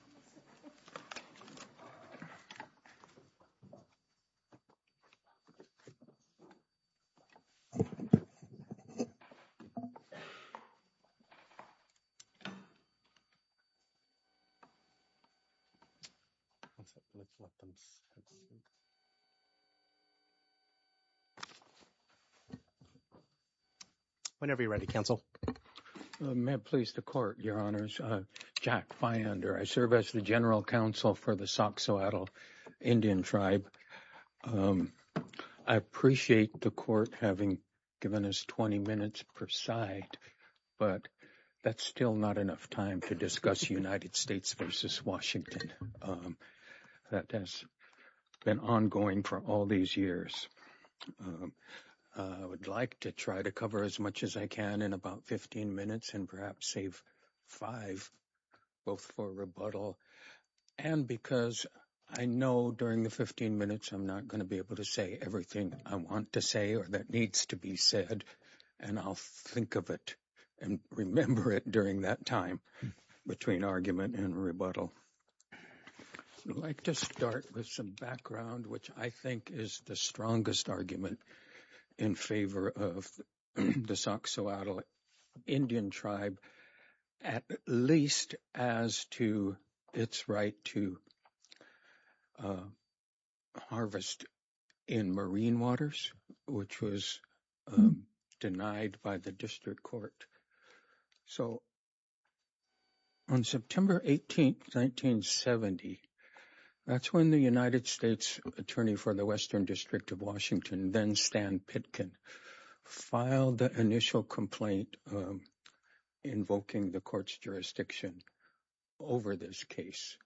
Attorney at Law, Steves & Smith whenever you're ready, counsel. May it please the court, your honors. Jack Fyander. I serve as the general counsel for the Soxhoatl Indian tribe. I appreciate the court having given us 20 minutes per side, but that's still not enough time to discuss United States versus Washington. That has been ongoing for all these years. I would like to try to cover as much as I can in about 15 minutes and perhaps save five both for rebuttal and because I know during the 15 minutes I'm not going to be able to say everything I want to say or that needs to be said, and I'll think of it and remember it during that time between argument and rebuttal. I'd like to start with some background, which I think is the strongest argument in favor of the Soxhoatl Indian tribe, at least as to its right to harvest in marine waters, which was denied by the district court. So, on September 18, 1970, that's when the United States Attorney for the Western District of Washington, then Stan Pitkin, filed the initial complaint invoking the court's jurisdiction over this case.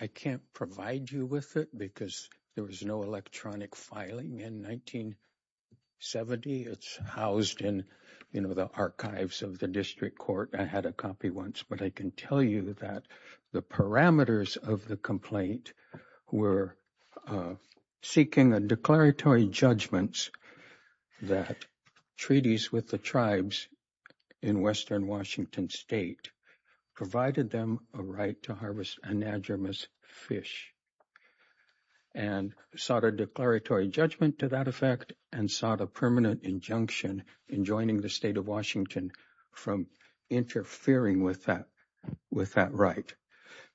I can't provide you with it because there was no electronic filing in 1970. It's housed in, you know, the archives of the district court. I had a copy once, but I can tell you that the parameters of the complaint were seeking a declaratory judgments that treaties with the tribes in western Washington state provided them with a copy of the case. A right to harvest anadromous fish and sought a declaratory judgment to that effect and sought a permanent injunction in joining the state of Washington from interfering with that right.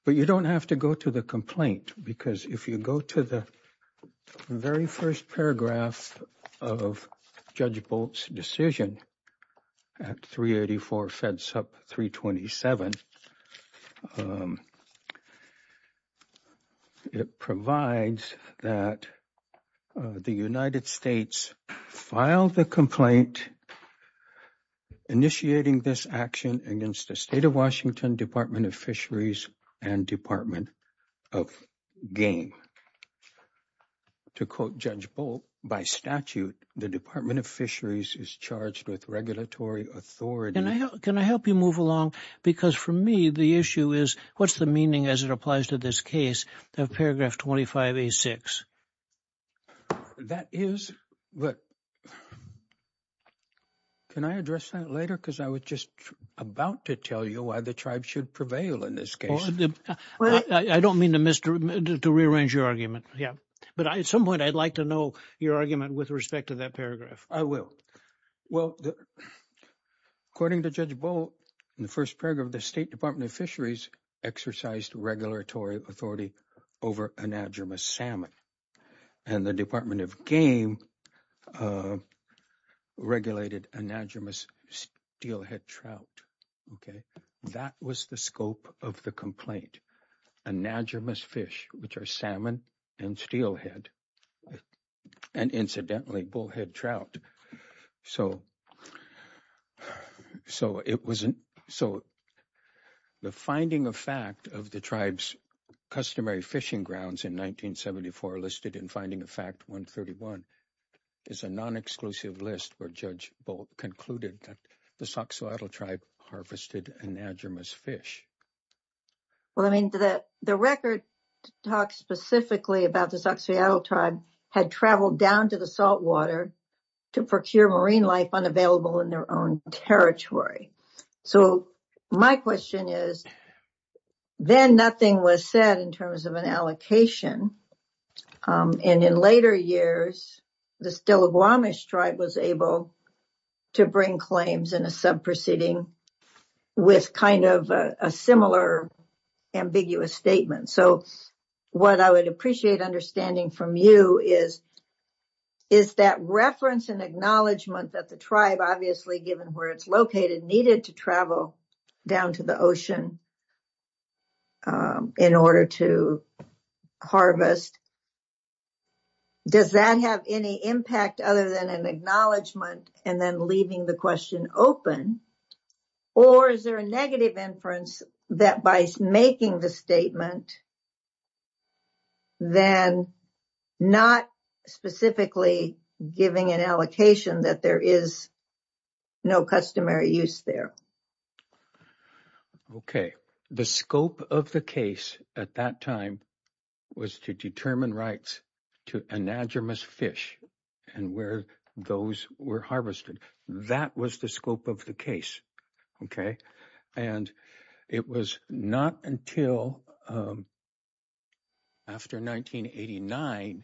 But you don't have to go to the complaint because if you go to the very first paragraph of Judge Bolt's decision at 384 FEDSUP 327, it provides that the United States filed the complaint initiating this action against the state of Washington Department of Fisheries, and Department of Game. To quote Judge Bolt, by statute, the Department of Fisheries is charged with regulatory authority. Can I help you move along? Because for me, the issue is what's the meaning as it applies to this case of paragraph 25A6? That is, but can I address that later? Because I was just about to tell you why the tribe should prevail in this case. I don't mean to rearrange your argument. Yeah, but at some point I'd like to know your argument with respect to that paragraph. I will. Well, according to Judge Bolt, in the first paragraph, the State Department of Fisheries exercised regulatory authority over anadromous salmon and the Department of Game regulated anadromous steelhead trout. That was the scope of the complaint, anadromous fish, which are salmon and steelhead, and incidentally, bullhead trout. So, the finding of fact of the tribe's customary fishing grounds in 1974 listed in finding of fact 131 is a non-exclusive list where Judge Bolt concluded that the Soxhawatta tribe harvested anadromous fish. Well, I mean, the record talks specifically about the Soxhawatta tribe had traveled down to the saltwater to procure marine life unavailable in their own territory. So, my question is, then nothing was said in terms of an allocation, and in later years, the Stiligwamish tribe was able to bring claims in a subproceeding with kind of a similar ambiguous statement. So, what I would appreciate understanding from you is, is that reference and acknowledgement that the tribe, obviously, given where it's located, needed to travel down to the ocean in order to harvest. Does that have any impact other than an acknowledgement and then leaving the question open? Or is there a negative inference that by making the statement, then not specifically giving an allocation that there is no customary use there? Okay, the scope of the case at that time was to determine rights to anadromous fish and where those were harvested. That was the scope of the case. And it was not until after 1989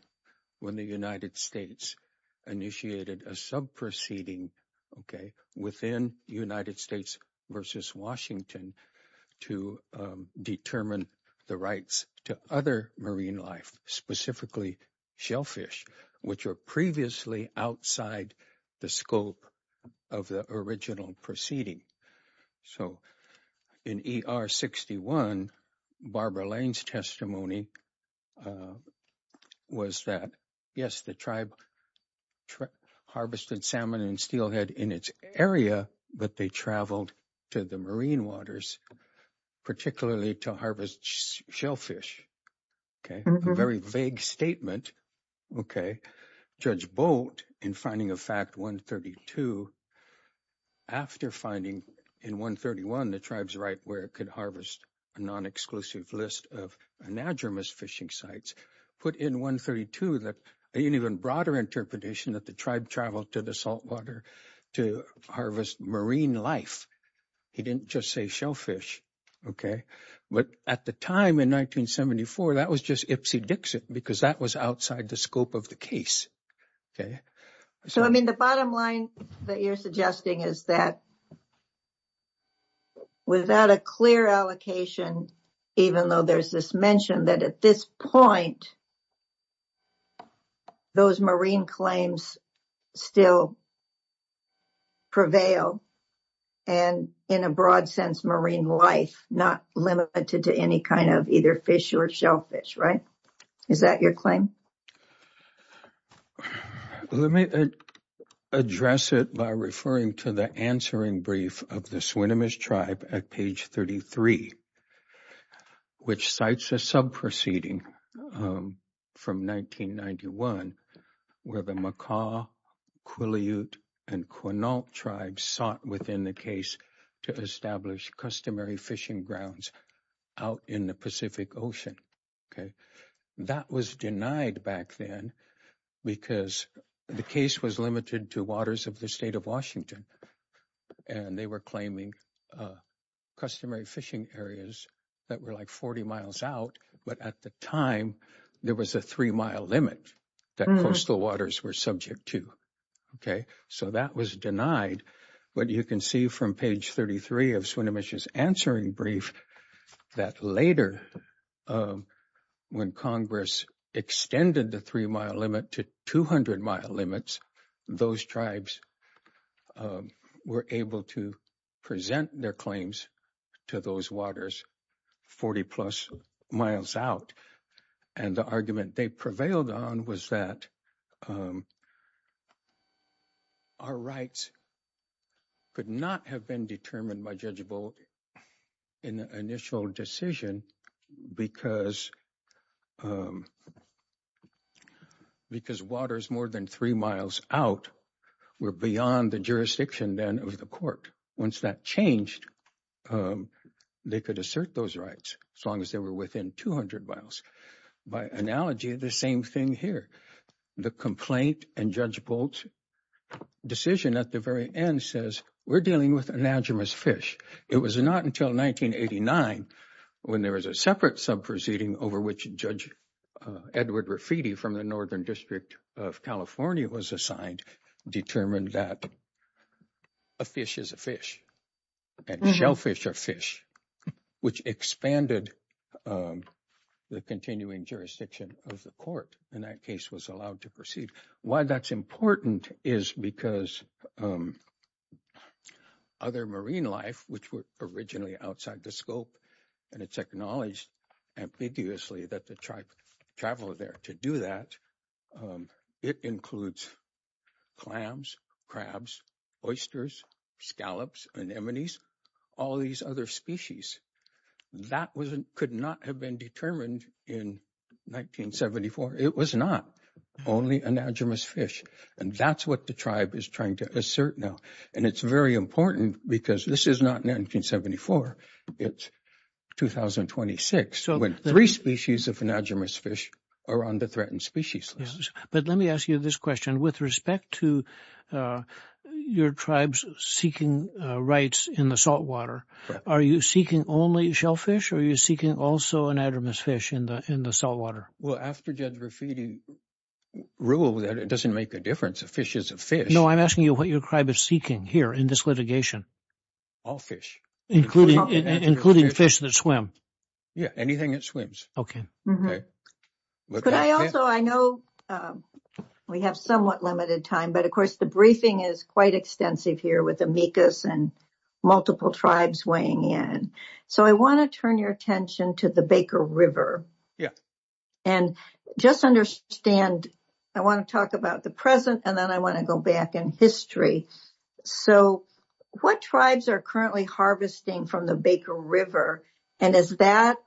when the United States initiated a subproceeding within the United States versus Washington to determine the rights to other marine life, specifically shellfish, which were previously outside the scope of the original proceeding. So, in ER 61, Barbara Lane's testimony was that, yes, the tribe harvested salmon and steelhead in its area, but they traveled to the marine waters, particularly to harvest shellfish. Okay, a very vague statement. Okay, Judge Boat, in finding of fact 132, after finding in 131 the tribe's right where it could harvest a non-exclusive list of anadromous fishing sites, put in 132 that an even broader interpretation that the tribe traveled to the saltwater to harvest marine life. He didn't just say shellfish. Okay. But at the time in 1974, that was just Ipsy Dixon because that was outside the scope of the case. Okay. So, I mean, the bottom line that you're suggesting is that without a clear allocation, even though there's this mention that at this point, those marine claims still prevail and in a broad sense marine life, not limited to any kind of either fish or shellfish, right? Is that your claim? Let me address it by referring to the answering brief of the Swinomish tribe at page 33, which cites a sub-proceeding from 1991 where the Makah, Quileute, and Quinault tribes sought within the case to establish customary fishing grounds out in the Pacific Ocean. Okay. That was denied back then because the case was limited to waters of the state of Washington and they were claiming customary fishing areas that were like 40 miles out, but at the time there was a three mile limit that coastal waters were subject to. Okay. So that was denied. But you can see from page 33 of Swinomish's answering brief that later when Congress extended the three mile limit to 200 mile limits, those tribes were able to present their claims to those waters 40 plus miles out. And the argument they prevailed on was that our rights could not have been determined by Judge Bull in the initial decision because waters more than three miles out were beyond the jurisdiction then of the court. Once that changed, they could assert those rights as long as they were within 200 miles. By analogy, the same thing here. The complaint and Judge Bull's decision at the very end says we're dealing with anadromous fish. It was not until 1989 when there was a separate sub proceeding over which Judge Edward Rafiti from the Northern District of California was assigned determined that a fish is a fish and shellfish are fish, which expanded the continuing jurisdiction of the court. And that case was allowed to proceed. Why that's important is because other marine life, which were originally outside the scope, and it's acknowledged ambiguously that the tribe traveled there to do that. It includes clams, crabs, oysters, scallops, anemones, all these other species that could not have been determined in 1974. It was not only anadromous fish. And that's what the tribe is trying to assert now. And it's very important because this is not 1974. It's 2026 when three species of anadromous fish are on the threatened species list. But let me ask you this question. With respect to your tribes seeking rights in the saltwater, are you seeking only shellfish or are you seeking also anadromous fish in the saltwater? Well, after Judge Rafiti ruled that it doesn't make a difference, a fish is a fish. No, I'm asking you what your tribe is seeking here in this litigation. All fish. Including fish that swim. Yeah, anything that swims. But I also, I know we have somewhat limited time, but of course the briefing is quite extensive here with amicus and multiple tribes weighing in. So I want to turn your attention to the Baker River. Yeah. And just understand, I want to talk about the present and then I want to go back in history. So what tribes are currently harvesting from the Baker River and is that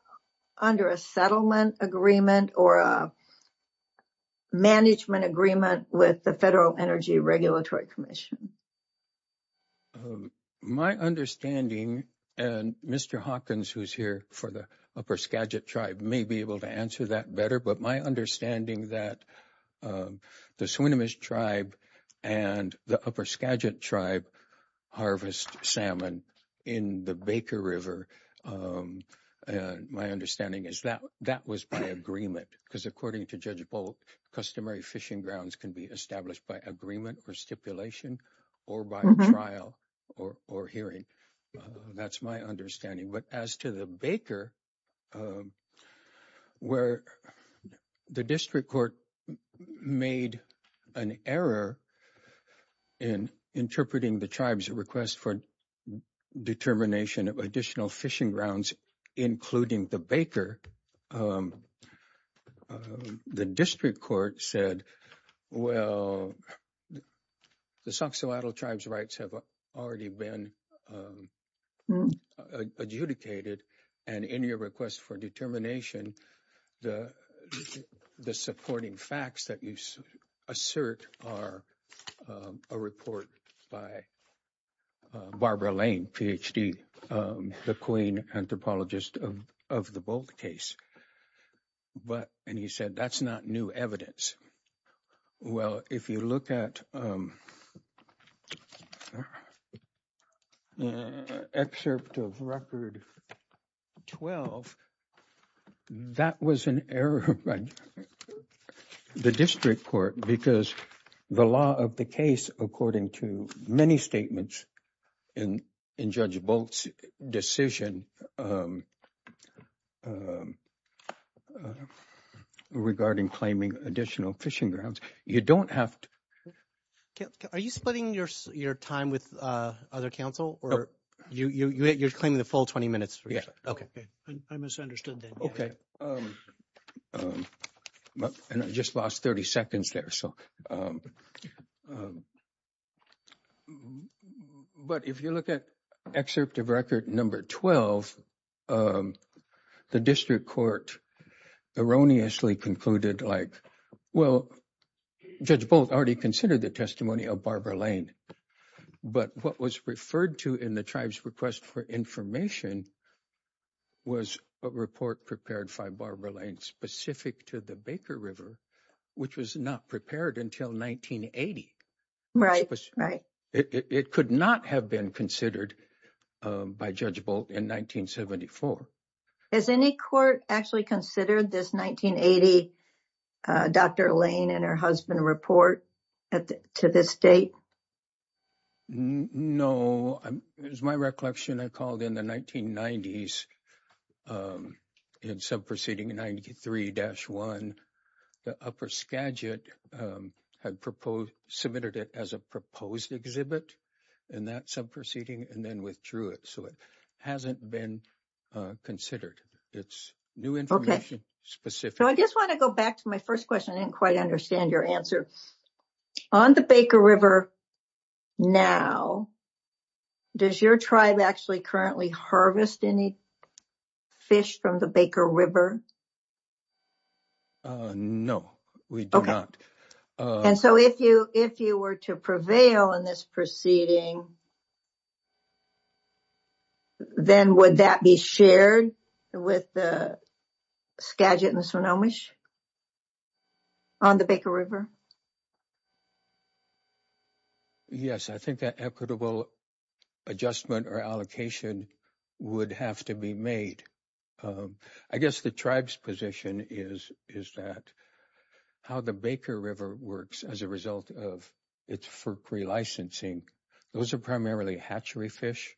under a settlement agreement or a management agreement with the Federal Energy Regulatory Commission? My understanding, and Mr. Hawkins, who's here for the upper Skagit tribe may be able to answer that better, but my understanding that the Swinomish tribe and the upper Skagit tribe harvest salmon in the Baker River. My understanding is that that was by agreement because according to Judge Bolt, customary fishing grounds can be established by agreement or stipulation or by trial or hearing. That's my understanding. But as to the Baker, where the district court made an error in interpreting the tribe's request for determination of additional fishing grounds, including the Baker. The district court said, well, the Soxhawatta tribe's rights have already been adjudicated and in your request for determination, the supporting facts that you assert are a report by Barbara Lane, Ph.D., the queen anthropologist of the Bolt case. But and he said, that's not new evidence. Well, if you look at an excerpt of Record 12, that was an error by the district court because the law of the case, according to many statements in Judge Bolt's decision regarding claiming additional fishing grounds, you don't have to. Are you splitting your time with other counsel or you're claiming the full 20 minutes? Okay. I misunderstood that. Okay. And I just lost 30 seconds there. But if you look at excerpt of Record Number 12, the district court erroneously concluded like, well, Judge Bolt already considered the testimony of Barbara Lane, but what was referred to in the tribe's request for information was a report prepared by Barbara Lane specific to the Baker River, which was not prepared. Until 1980. Right. It could not have been considered by Judge Bolt in 1974. Has any court actually considered this 1980 Dr. Lane and her husband report to this date? No, it was my recollection. I called in the 1990s in sub proceeding 93-1. The upper Skagit had proposed submitted it as a proposed exhibit in that sub proceeding and then withdrew it. So it hasn't been considered. It's new information specific. I just want to go back to my first question. I didn't quite understand your answer. On the Baker River now, does your tribe actually currently harvest any fish from the Baker River? No, we do not. Okay. On the Baker River. Yes, I think that equitable adjustment or allocation would have to be made. I guess the tribe's position is, is that how the Baker River works as a result of its FERC relicensing. Those are primarily hatchery fish.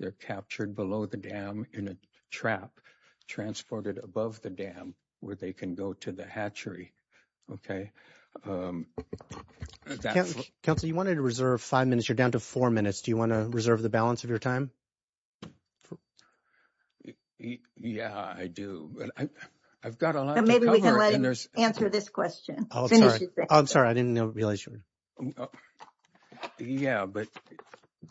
They're captured below the dam in a trap transported above the dam where they can go to the hatchery. Counsel, you wanted to reserve five minutes. You're down to four minutes. Do you want to reserve the balance of your time? Yeah, I do. I've got a lot to cover. Maybe we can let him answer this question. I'm sorry. I'm sorry. I didn't realize you were. Yeah, but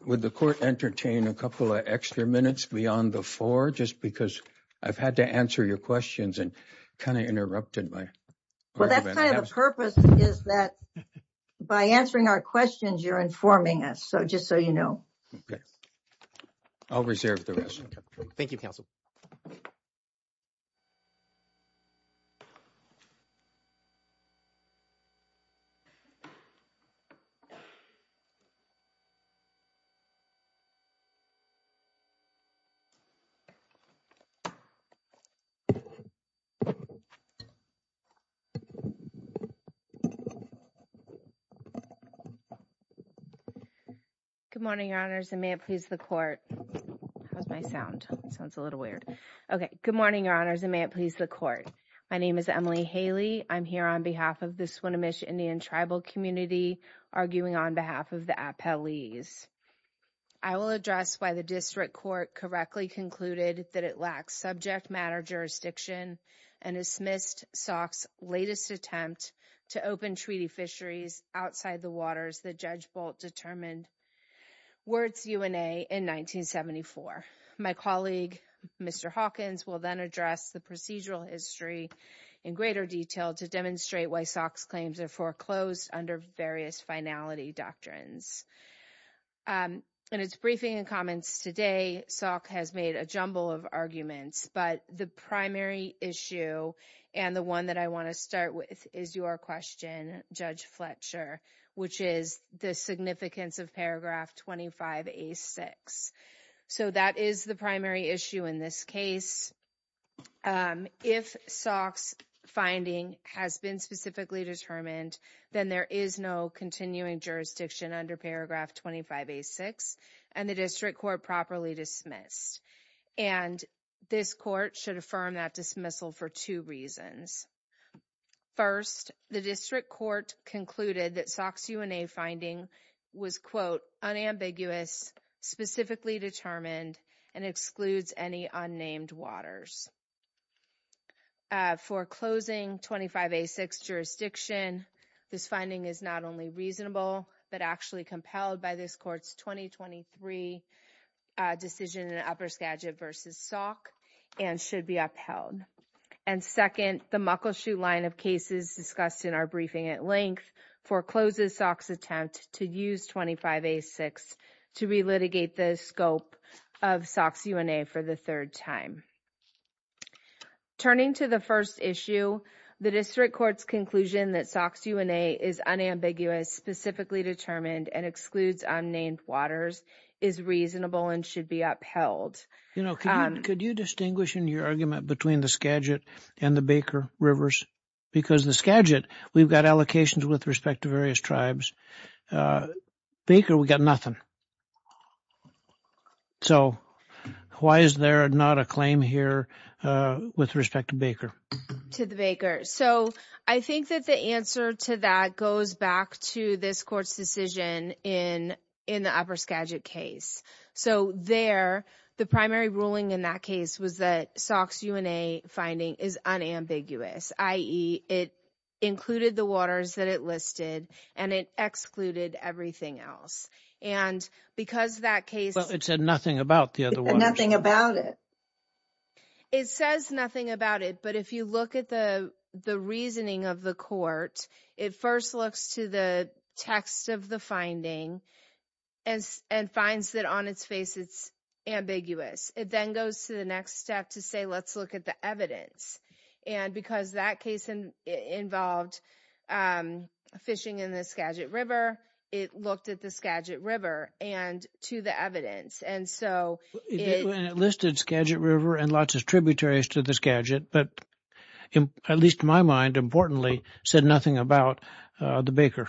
would the court entertain a couple of extra minutes beyond the four? Just because I've had to answer your questions and kind of interrupted my. Well, that's kind of the purpose is that by answering our questions, you're informing us. So just so you know. I'll reserve the rest. Thank you, Counsel. Good morning, Your Honors. And may it please the court. How's my sound? Sounds a little weird. Okay. Good morning, Your Honors. And may it please the court. My name is Emily Haley. I'm here on behalf of the Swinomish Indian Tribal Community, arguing on behalf of the appellees. I will address why the district court correctly concluded that it lacks subject matter jurisdiction and dismissed SOC's latest attempt to open treaty fisheries outside the waters that Judge Bolt determined were its UNA in 1974. My colleague, Mr. Hawkins, will then address the procedural history in greater detail to demonstrate why SOC's claims are foreclosed under various finality doctrines. In its briefing and comments today, SOC has made a jumble of arguments, but the primary issue and the one that I want to start with is your question, Judge Fletcher, which is the significance of paragraph 25A6. So that is the primary issue in this case. If SOC's finding has been specifically determined, then there is no continuing jurisdiction under paragraph 25A6, and the district court properly dismissed. And this court should affirm that dismissal for two reasons. First, the district court concluded that SOC's UNA finding was, quote, unambiguous, specifically determined, and excludes any unnamed waters. For closing 25A6 jurisdiction, this finding is not only reasonable, but actually compelled by this court's 2023 decision in Upperskagit v. SOC and should be upheld. And second, the Muckleshoot line of cases discussed in our briefing at length forecloses SOC's attempt to use 25A6 to relitigate the scope of SOC's UNA for the third time. Turning to the first issue, the district court's conclusion that SOC's UNA is unambiguous, specifically determined, and excludes unnamed waters is reasonable and should be upheld. You know, could you distinguish in your argument between the Skagit and the Baker rivers? Because the Skagit, we've got allocations with respect to various tribes. Baker, we've got nothing. So why is there not a claim here with respect to Baker? To the Baker. So I think that the answer to that goes back to this court's decision in the Upperskagit case. So there, the primary ruling in that case was that SOC's UNA finding is unambiguous, i.e., it included the waters that it listed and it excluded everything else. And because that case- But it said nothing about the other waters. Nothing about it. It says nothing about it, but if you look at the reasoning of the court, it first looks to the text of the finding and finds that on its face it's ambiguous. It then goes to the next step to say let's look at the evidence. And because that case involved fishing in the Skagit River, it looked at the Skagit River and to the evidence. And so it- It listed Skagit River and lots of tributaries to the Skagit, but at least in my mind, importantly, said nothing about the Baker.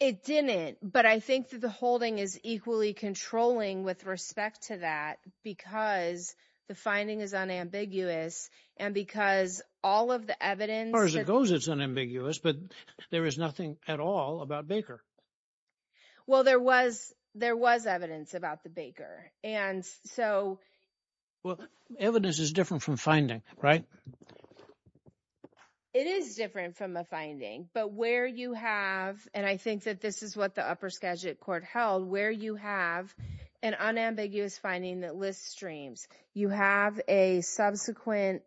It didn't, but I think that the holding is equally controlling with respect to that because the finding is unambiguous and because all of the evidence- As far as it goes, it's unambiguous, but there is nothing at all about Baker. Well, there was evidence about the Baker. And so- Well, evidence is different from finding, right? It is different from a finding, but where you have- and I think that this is what the upper Skagit court held- where you have an unambiguous finding that lists streams, you have a subsequent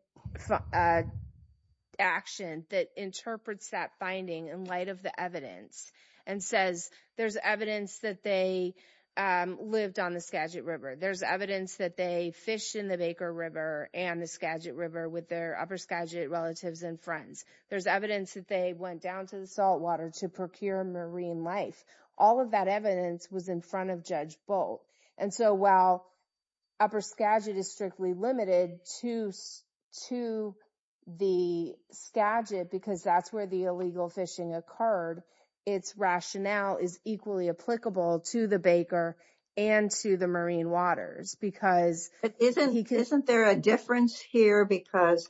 action that interprets that finding in light of the evidence and says there's evidence that they lived on the Skagit River. There's evidence that they fished in the Baker River and the Skagit River with their upper Skagit relatives and friends. There's evidence that they went down to the salt water to procure marine life. All of that evidence was in front of Judge Bolt. And so while upper Skagit is strictly limited to the Skagit because that's where the illegal fishing occurred, its rationale is equally applicable to the Baker and to the marine waters because- Isn't there a difference here because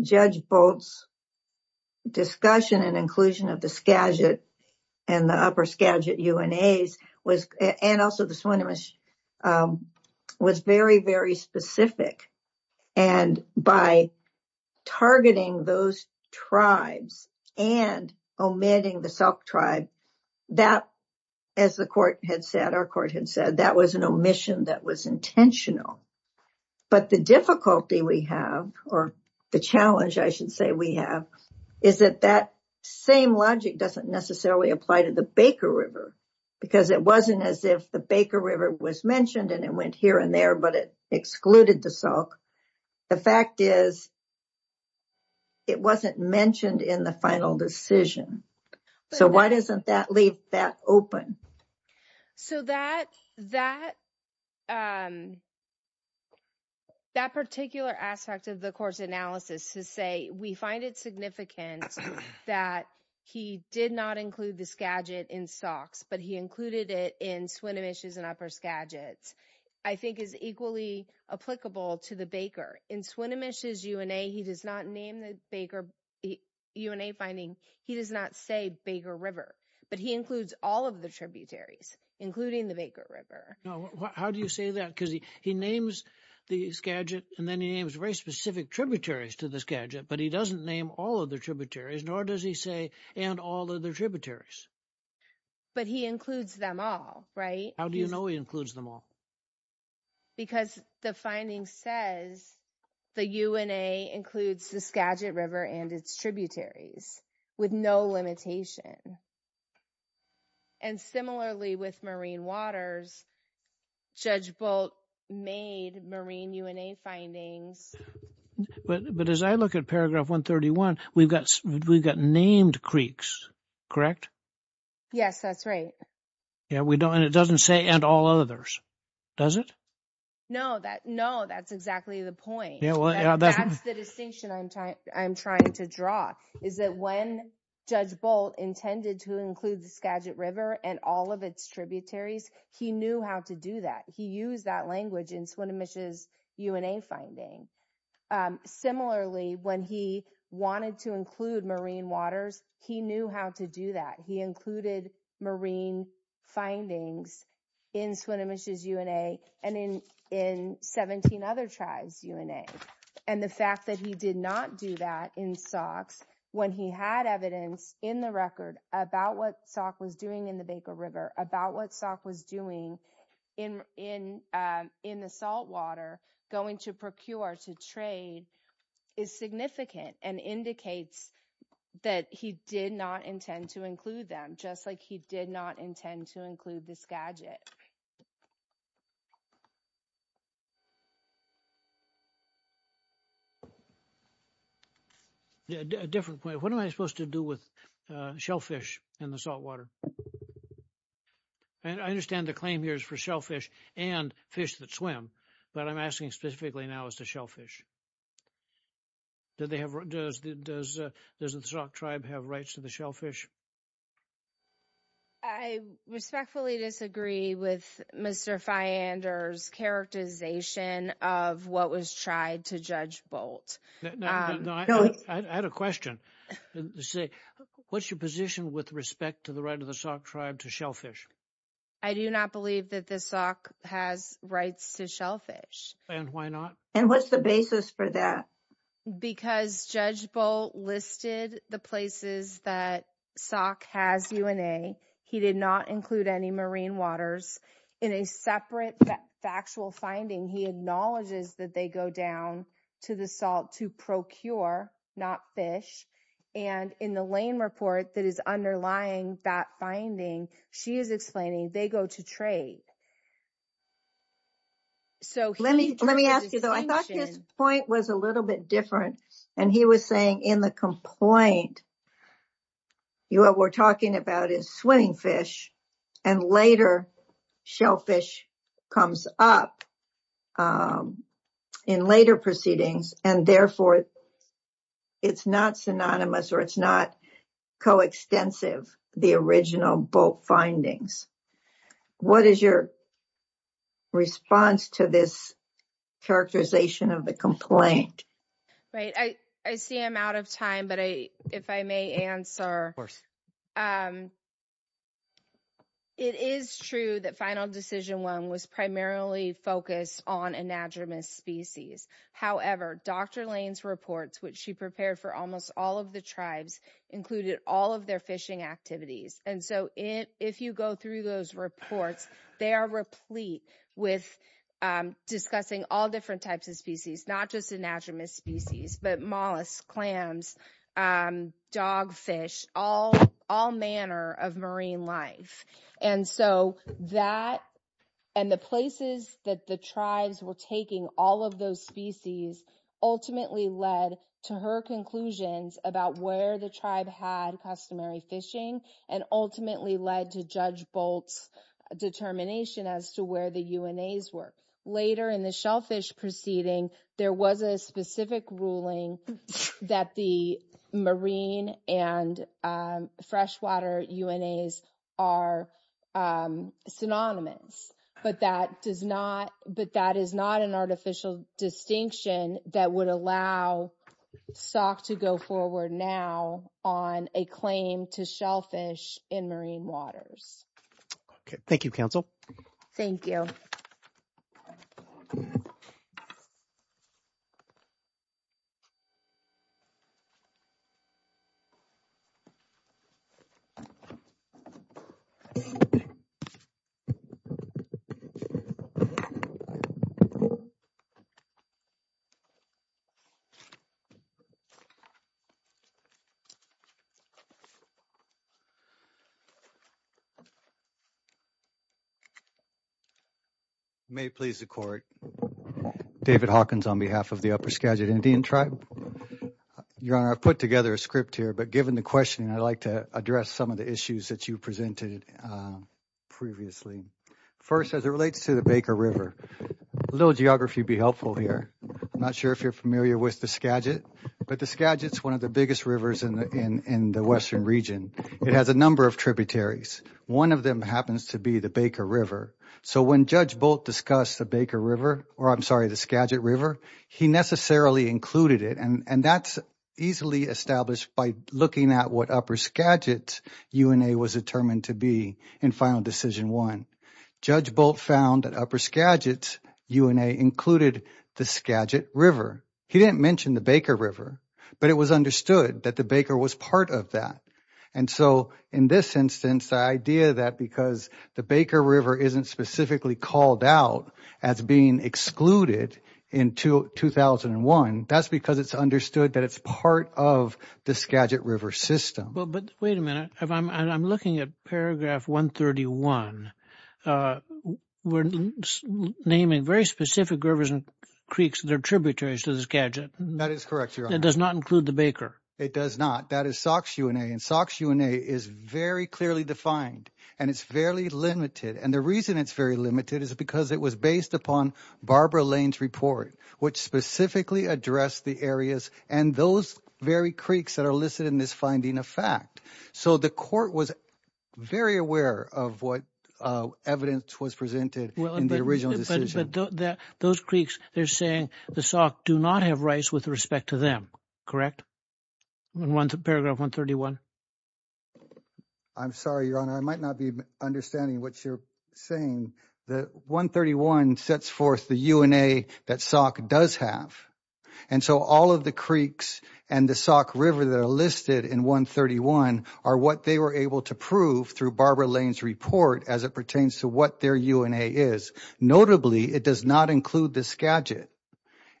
Judge Bolt's discussion and inclusion of the Skagit and the upper Skagit UNAs and also the Swinomish was very, very specific. And by targeting those tribes and omitting the Salk Tribe, that, as the court had said, our court had said, that was an omission that was intentional. But the difficulty we have, or the challenge I should say we have, is that that same logic doesn't necessarily apply to the Baker River because it wasn't as if the Baker River was mentioned and it went here and there, but it excluded the Salk. The fact is, it wasn't mentioned in the final decision. So why doesn't that leave that open? So that particular aspect of the court's analysis to say, we find it significant that he did not include the Skagit in Salks, but he included it in Swinomish's and upper Skagits, I think is equally applicable to the Baker. In Swinomish's UNA, he does not name the UNA finding. He does not say Baker River, but he includes all of the tributaries, including the Baker River. How do you say that? Because he names the Skagit and then he names very specific tributaries to the Skagit, but he doesn't name all of the tributaries, nor does he say, and all of the tributaries. But he includes them all, right? How do you know he includes them all? Because the finding says the UNA includes the Skagit River and its tributaries with no limitation. And similarly with Marine Waters, Judge Bolt made Marine UNA findings. But as I look at paragraph 131, we've got named creeks, correct? Yes, that's right. And it doesn't say and all others, does it? No, that's exactly the point. That's the distinction I'm trying to draw, is that when Judge Bolt intended to include the Skagit River and all of its tributaries, he knew how to do that. He used that language in Swinomish's UNA finding. Similarly, when he wanted to include Marine Waters, he knew how to do that. He included Marine findings in Swinomish's UNA and in 17 other tribes' UNA. And the fact that he did not do that in Sauk's, when he had evidence in the record about what Sauk was doing in the Baker River, about what Sauk was doing in the saltwater, going to procure, to trade, is significant and indicates that he did not intend to include them, just like he did not intend to include the Skagit. A different point. What am I supposed to do with shellfish in the saltwater? And I understand the claim here is for shellfish and fish that swim, but I'm asking specifically now as to shellfish. Does the Sauk tribe have rights to the shellfish? I respectfully disagree with Mr. Fyander's characterization of what was tried to Judge Bolt. I had a question. What's your position with respect to the right of the Sauk tribe to shellfish? I do not believe that the Sauk has rights to shellfish. And why not? And what's the basis for that? Because Judge Bolt listed the places that Sauk has UNA. He did not include any marine waters. In a separate factual finding, he acknowledges that they go down to the salt to procure, not fish. And in the Lane report that is underlying that finding, she is explaining they go to trade. Let me ask you, though. I thought his point was a little bit different. And he was saying in the complaint, what we're talking about is swimming fish. And later, shellfish comes up in later proceedings. And therefore, it's not synonymous or it's not coextensive, the original Bolt findings. What is your response to this characterization of the complaint? I see I'm out of time, but if I may answer, it is true that Final Decision I was primarily focused on anadromous species. However, Dr. Lane's reports, which she prepared for almost all of the tribes, included all of their fishing activities. And so if you go through those reports, they are replete with discussing all different types of species, not just anadromous species, but mollusks, clams, dogfish, all manner of marine life. And so that and the places that the tribes were taking all of those species ultimately led to her conclusions about where the tribe had customary fishing and ultimately led to Judge Bolt's determination as to where the UNAs were. Later in the shellfish proceeding, there was a specific ruling that the marine and freshwater UNAs are synonymous. But that is not an artificial distinction that would allow SOC to go forward now on a claim to shellfish in marine waters. Thank you, Counsel. Thank you. You may please record. David Hawkins on behalf of the Upper Skagit Indian Tribe. Your Honor, I've put together a script here, but given the question I'd like to address some of the issues that you presented previously. First, as it relates to the Baker River, a little geography would be helpful here. I'm not sure if you're familiar with the Skagit, but the Skagit is one of the biggest rivers in the western region. It has a number of tributaries. One of them happens to be the Baker River. So when Judge Bolt discussed the Skagit River, he necessarily included it, and that's easily established by looking at what Upper Skagit's UNA was determined to be in Final Decision I. Judge Bolt found that Upper Skagit's UNA included the Skagit River. He didn't mention the Baker River, but it was understood that the Baker was part of that. And so in this instance, the idea that because the Baker River isn't specifically called out as being excluded in 2001, that's because it's understood that it's part of the Skagit River system. But wait a minute. I'm looking at paragraph 131. We're naming very specific rivers and creeks that are tributaries to the Skagit. That is correct, Your Honor. That does not include the Baker. It does not. That is Sauk's UNA, and Sauk's UNA is very clearly defined, and it's fairly limited. And the reason it's very limited is because it was based upon Barbara Lane's report, which specifically addressed the areas and those very creeks that are listed in this finding of fact. So the court was very aware of what evidence was presented in the original decision. But those creeks, they're saying the Sauk do not have rights with respect to them, correct? In paragraph 131. I'm sorry, Your Honor. I might not be understanding what you're saying. The 131 sets forth the UNA that Sauk does have. And so all of the creeks and the Sauk River that are listed in 131 are what they were able to prove through Barbara Lane's report as it pertains to what their UNA is. Notably, it does not include the Skagit.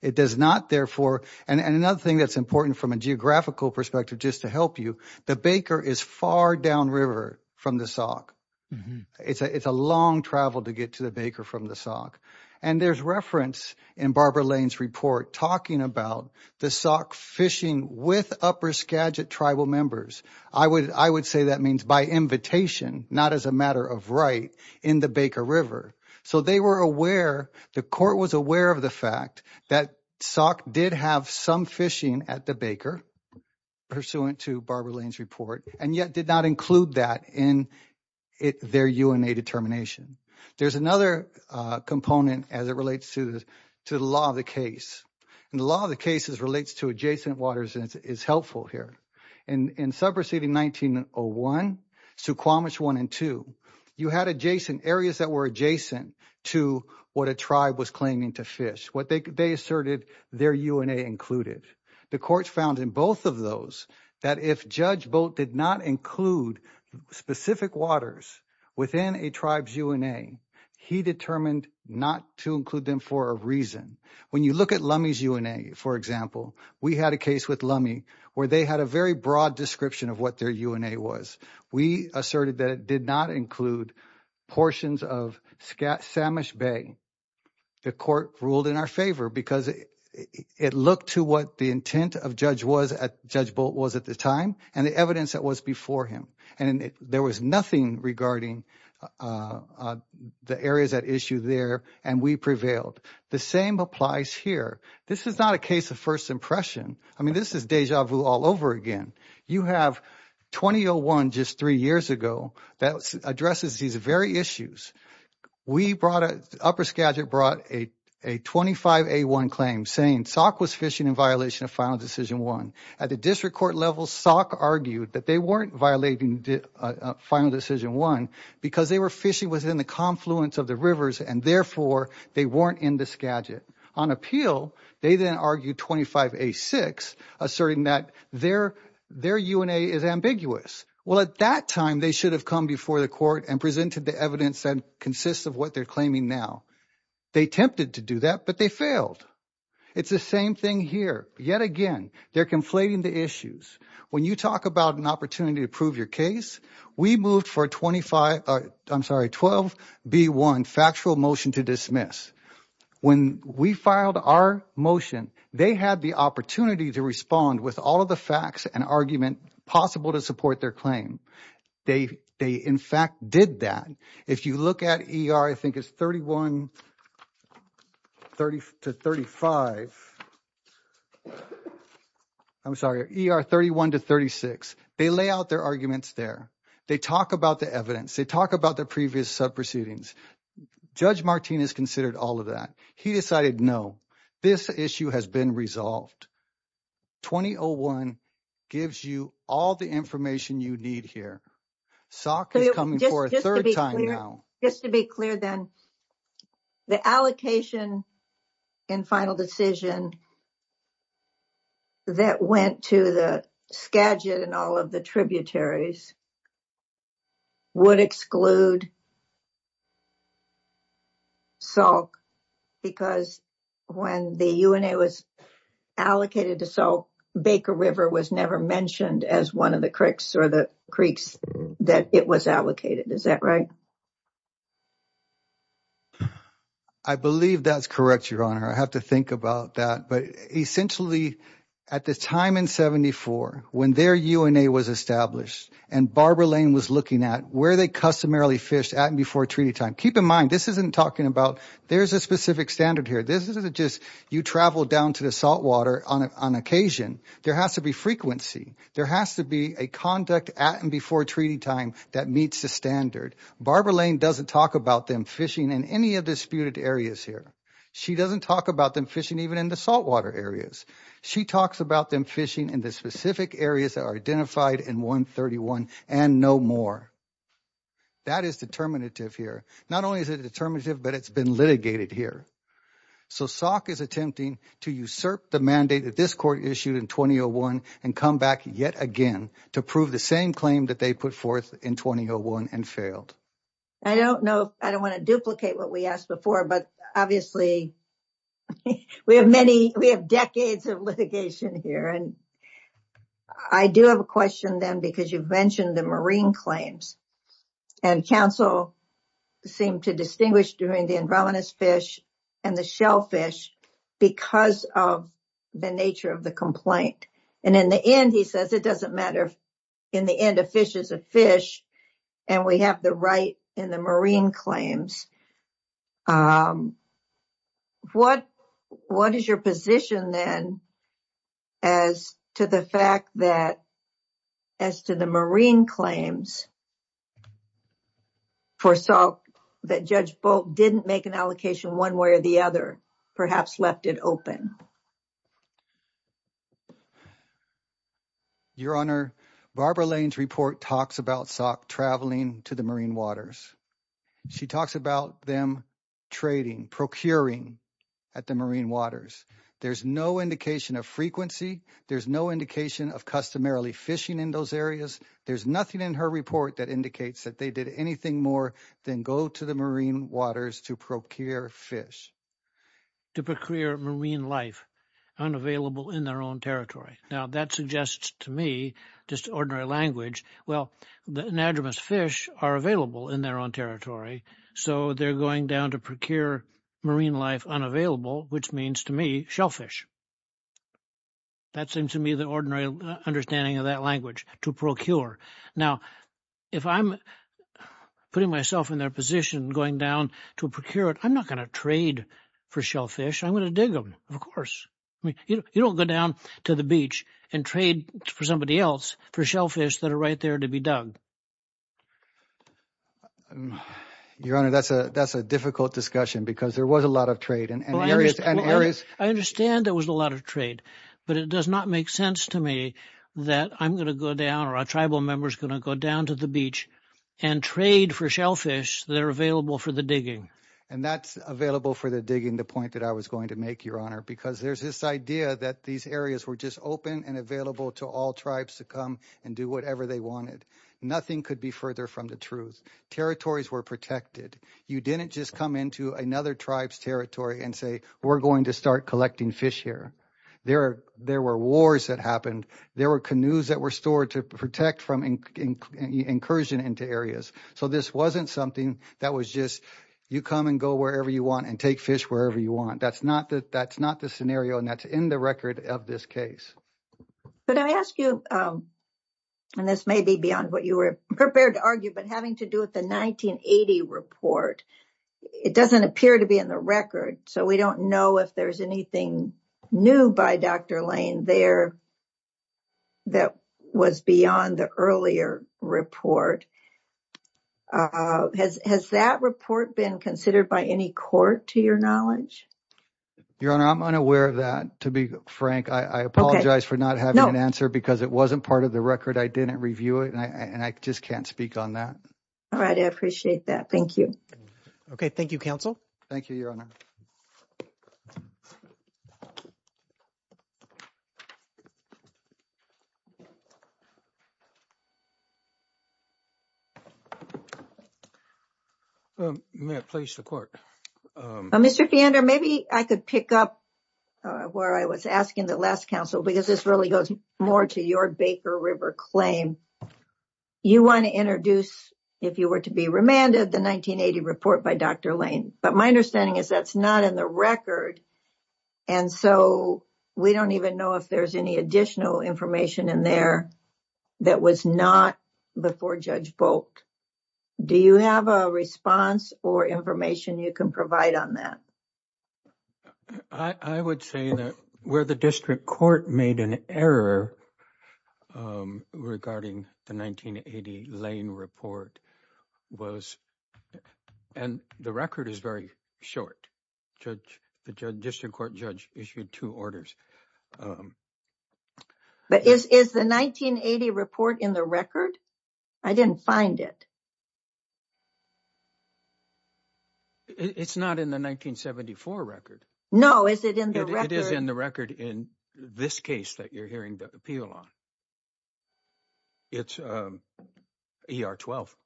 It does not, therefore, and another thing that's important from a geographical perspective just to help you, the Baker is far downriver from the Sauk. It's a long travel to get to the Baker from the Sauk. And there's reference in Barbara Lane's report talking about the Sauk fishing with upper Skagit tribal members. I would say that means by invitation, not as a matter of right, in the Baker River. So they were aware, the court was aware of the fact that Sauk did have some fishing at the Baker, pursuant to Barbara Lane's report, and yet did not include that in their UNA determination. There's another component as it relates to the law of the case. And the law of the case relates to adjacent waters and is helpful here. In sub proceeding 1901, Suquamish 1 and 2, you had adjacent areas that were adjacent to what a tribe was claiming to fish. They asserted their UNA included. The court found in both of those that if Judge Bolt did not include specific waters within a tribe's UNA, he determined not to include them for a reason. When you look at Lummi's UNA, for example, we had a case with Lummi where they had a very broad description of what their UNA was. We asserted that it did not include portions of Samish Bay. The court ruled in our favor because it looked to what the intent of Judge Bolt was at the time and the evidence that was before him. And there was nothing regarding the areas at issue there, and we prevailed. The same applies here. This is not a case of first impression. I mean, this is deja vu all over again. You have 2001, just three years ago, that addresses these very issues. Upper Skagit brought a 25A1 claim saying Sauk was fishing in violation of Final Decision 1. At the district court level, Sauk argued that they weren't violating Final Decision 1 because they were fishing within the confluence of the rivers, and therefore, they weren't in the Skagit. On appeal, they then argued 25A6, asserting that their UNA is ambiguous. Well, at that time, they should have come before the court and presented the evidence that consists of what they're claiming now. They attempted to do that, but they failed. It's the same thing here. Yet again, they're conflating the issues. When you talk about an opportunity to prove your case, we moved for a 25, I'm sorry, 12B1 factual motion to dismiss. When we filed our motion, they had the opportunity to respond with all of the facts and argument possible to support their claim. They, in fact, did that. If you look at ER, I think it's 31 to 35, I'm sorry, ER 31 to 36, they lay out their arguments there. They talk about the evidence. They talk about their previous sub-proceedings. Judge Martinez considered all of that. He decided, no, this issue has been resolved. 2001 gives you all the information you need here. SOC is coming for a third time now. Just to be clear then, the allocation and final decision that went to the Skagit and all of the tributaries would exclude SOC because when the UNA was allocated to SOC, Baker River was never mentioned as one of the creeks that it was allocated. Is that right? I believe that's correct, Your Honor. I have to think about that. But essentially, at the time in 74, when their UNA was established and Barbara Lane was looking at where they customarily fished at and before treaty time, keep in mind, this isn't talking about there's a specific standard here. This isn't just you travel down to the saltwater on occasion. There has to be frequency. There has to be a conduct at and before treaty time that meets the standard. Barbara Lane doesn't talk about them fishing in any of the disputed areas here. She doesn't talk about them fishing even in the saltwater areas. She talks about them fishing in the specific areas that are identified in 131 and no more. That is determinative here. Not only is it determinative, but it's been litigated here. So SOC is attempting to usurp the mandate that this court issued in 2001 and come back yet again to prove the same claim that they put forth in 2001 and failed. I don't know. I don't want to duplicate what we asked before. But obviously, we have many. We have decades of litigation here. I do have a question then because you've mentioned the marine claims. And counsel seemed to distinguish between the Andromedas fish and the shellfish because of the nature of the complaint. And in the end, he says it doesn't matter. In the end, a fish is a fish. And we have the right in the marine claims. What is your position then as to the fact that as to the marine claims for SOC that Judge Bolt didn't make an allocation one way or the other, perhaps left it open? Your Honor, Barbara Lane's report talks about SOC traveling to the marine waters. She talks about them trading, procuring at the marine waters. There's no indication of frequency. There's no indication of customarily fishing in those areas. There's nothing in her report that indicates that they did anything more than go to the marine waters to procure fish. To procure marine life unavailable in their own territory. Now, that suggests to me just ordinary language. Well, the Andromedas fish are available in their own territory. So they're going down to procure marine life unavailable, which means to me shellfish. That seems to me the ordinary understanding of that language, to procure. Now, if I'm putting myself in their position going down to procure it, I'm not going to trade for shellfish. I'm going to dig them, of course. You don't go down to the beach and trade for somebody else for shellfish that are right there to be dug. Your Honor, that's a difficult discussion because there was a lot of trade. I understand there was a lot of trade. But it does not make sense to me that I'm going to go down or a tribal member is going to go down to the beach and trade for shellfish that are available for the digging. And that's available for the digging, the point that I was going to make, Your Honor. Because there's this idea that these areas were just open and available to all tribes to come and do whatever they wanted. Nothing could be further from the truth. Territories were protected. You didn't just come into another tribe's territory and say, we're going to start collecting fish here. There were wars that happened. There were canoes that were stored to protect from incursion into areas. So this wasn't something that was just you come and go wherever you want and take fish wherever you want. That's not the scenario, and that's in the record of this case. But I ask you, and this may be beyond what you were prepared to argue, but having to do with the 1980 report, it doesn't appear to be in the record. So we don't know if there's anything new by Dr. Lane there that was beyond the earlier report. Has that report been considered by any court, to your knowledge? Your Honor, I'm unaware of that, to be frank. I apologize for not having an answer because it wasn't part of the record. I didn't review it, and I just can't speak on that. All right. I appreciate that. Thank you. Okay. Thank you, Counsel. Thank you, Your Honor. You may have placed the court. Mr. Feander, maybe I could pick up where I was asking the last counsel, because this really goes more to your Baker River claim. You want to introduce, if you were to be remanded, the 1980 report by Dr. Lane. But my understanding is that's not in the record. And so we don't even know if there's any additional information in there that was not before Judge Bolt. Do you have a response or information you can provide on that? I would say that where the district court made an error regarding the 1980 Lane report was, and the record is very short. The district court judge issued two orders. But is the 1980 report in the record? I didn't find it. It's not in the 1974 record. No, is it in the record? It is in the record in this case that you're hearing the appeal on. It's ER 12.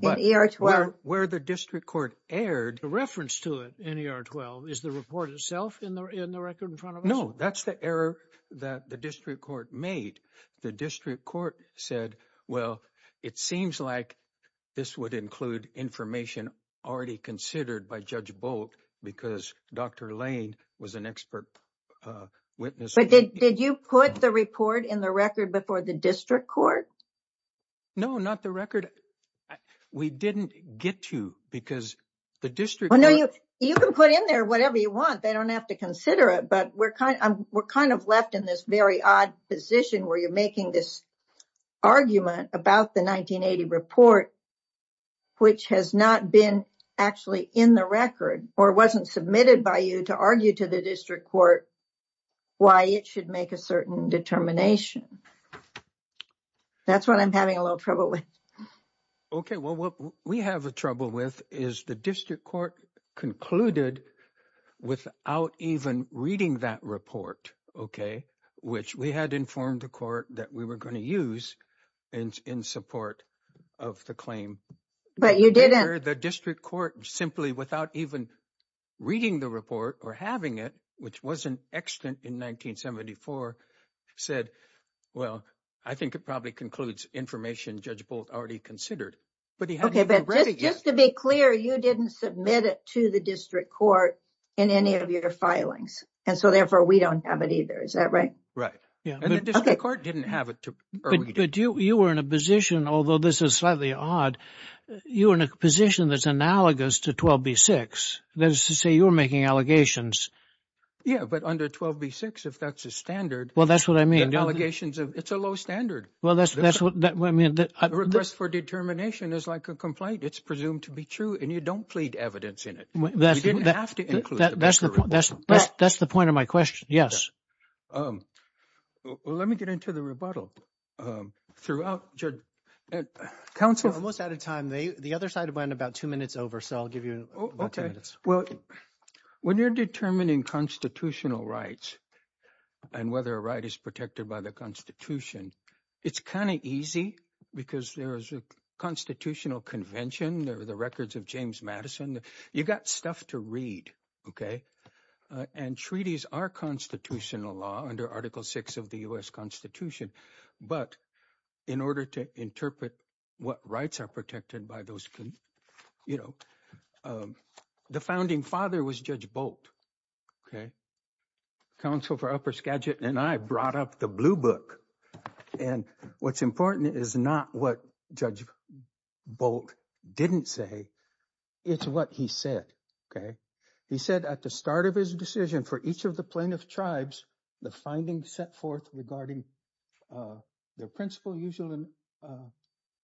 In ER 12? Where the district court aired. The reference to it in ER 12, is the report itself in the record in front of us? No, that's the error that the district court made. The district court said, well, it seems like this would include information already considered by Judge Bolt because Dr. Lane was an expert witness. But did you put the report in the record before the district court? No, not the record. We didn't get to because the district. You can put in there whatever you want. They don't have to consider it. But we're kind of left in this very odd position where you're making this argument about the 1980 report. Which has not been actually in the record or wasn't submitted by you to argue to the district court. Why it should make a certain determination. That's what I'm having a little trouble with. Okay. Well, what we have a trouble with is the district court concluded without even reading that report. Okay. Which we had informed the court that we were going to use in support of the claim. But you didn't. Where the district court simply without even reading the report or having it, which was an accident in 1974, said, well, I think it probably concludes information Judge Bolt already considered. But just to be clear, you didn't submit it to the district court in any of your filings. And so, therefore, we don't have it either. Is that right? And the district court didn't have it. But you were in a position, although this is slightly odd, you were in a position that's analogous to 12B-6. That is to say, you were making allegations. Yeah, but under 12B-6, if that's a standard. Well, that's what I mean. It's a low standard. A request for determination is like a complaint. It's presumed to be true and you don't plead evidence in it. You didn't have to include the record. That's the point of my question. Yes. Well, let me get into the rebuttal. Throughout, Judge. Counsel. We're almost out of time. The other side went about two minutes over, so I'll give you about two minutes. Well, when you're determining constitutional rights and whether a right is protected by the Constitution, it's kind of easy because there is a constitutional convention. There are the records of James Madison. You got stuff to read. Okay. And treaties are constitutional law under Article 6 of the U.S. Constitution. But in order to interpret what rights are protected by those, you know, the founding father was Judge Bolt. Okay. Counsel for Upper Skagit and I brought up the Blue Book. And what's important is not what Judge Bolt didn't say. It's what he said. Okay. He said at the start of his decision for each of the plaintiff tribes, the findings set forth regarding their principle, usual and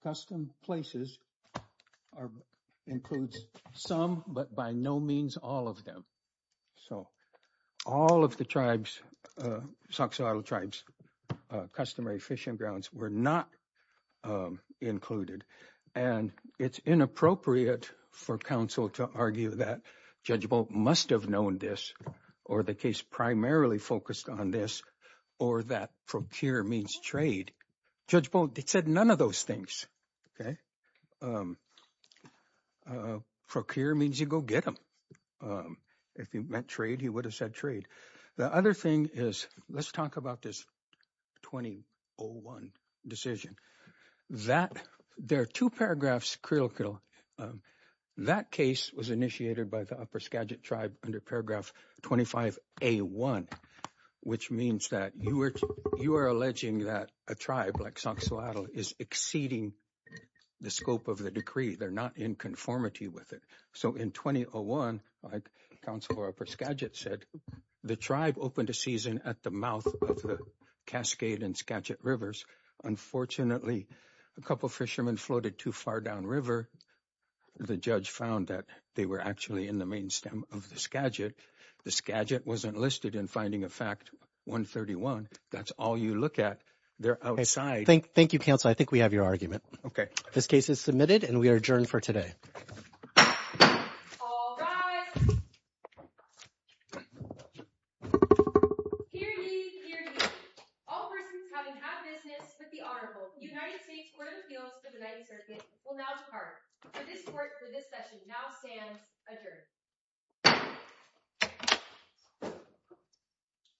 custom places are includes some, but by no means all of them. So all of the tribes, Soxhawtla tribes, customary fishing grounds were not included. And it's inappropriate for counsel to argue that Judge Bolt must have known this or the case primarily focused on this or that procure means trade. Judge Bolt said none of those things. Okay. Procure means you go get them. If he meant trade, he would have said trade. The other thing is, let's talk about this 2001 decision that there are two paragraphs. That case was initiated by the upper Skagit tribe under paragraph 25, a one, which means that you are, you are alleging that a tribe like Soxhawtla is exceeding the scope of the decree. They're not in conformity with it. So in 2001, like Counselor Upper Skagit said, the tribe opened a season at the mouth of the Cascade and Skagit rivers. Unfortunately, a couple of fishermen floated too far down river. The judge found that they were actually in the main stem of the Skagit. The Skagit wasn't listed in finding a fact 131. That's all you look at. They're outside. Thank you, counsel. I think we have your argument. This case is submitted and we are adjourned for today. All rise. Hear ye, hear ye. All persons having had business with the Honorable United States Court of Appeals for the United Circuit will now depart. For this court, for this session, now stands adjourned.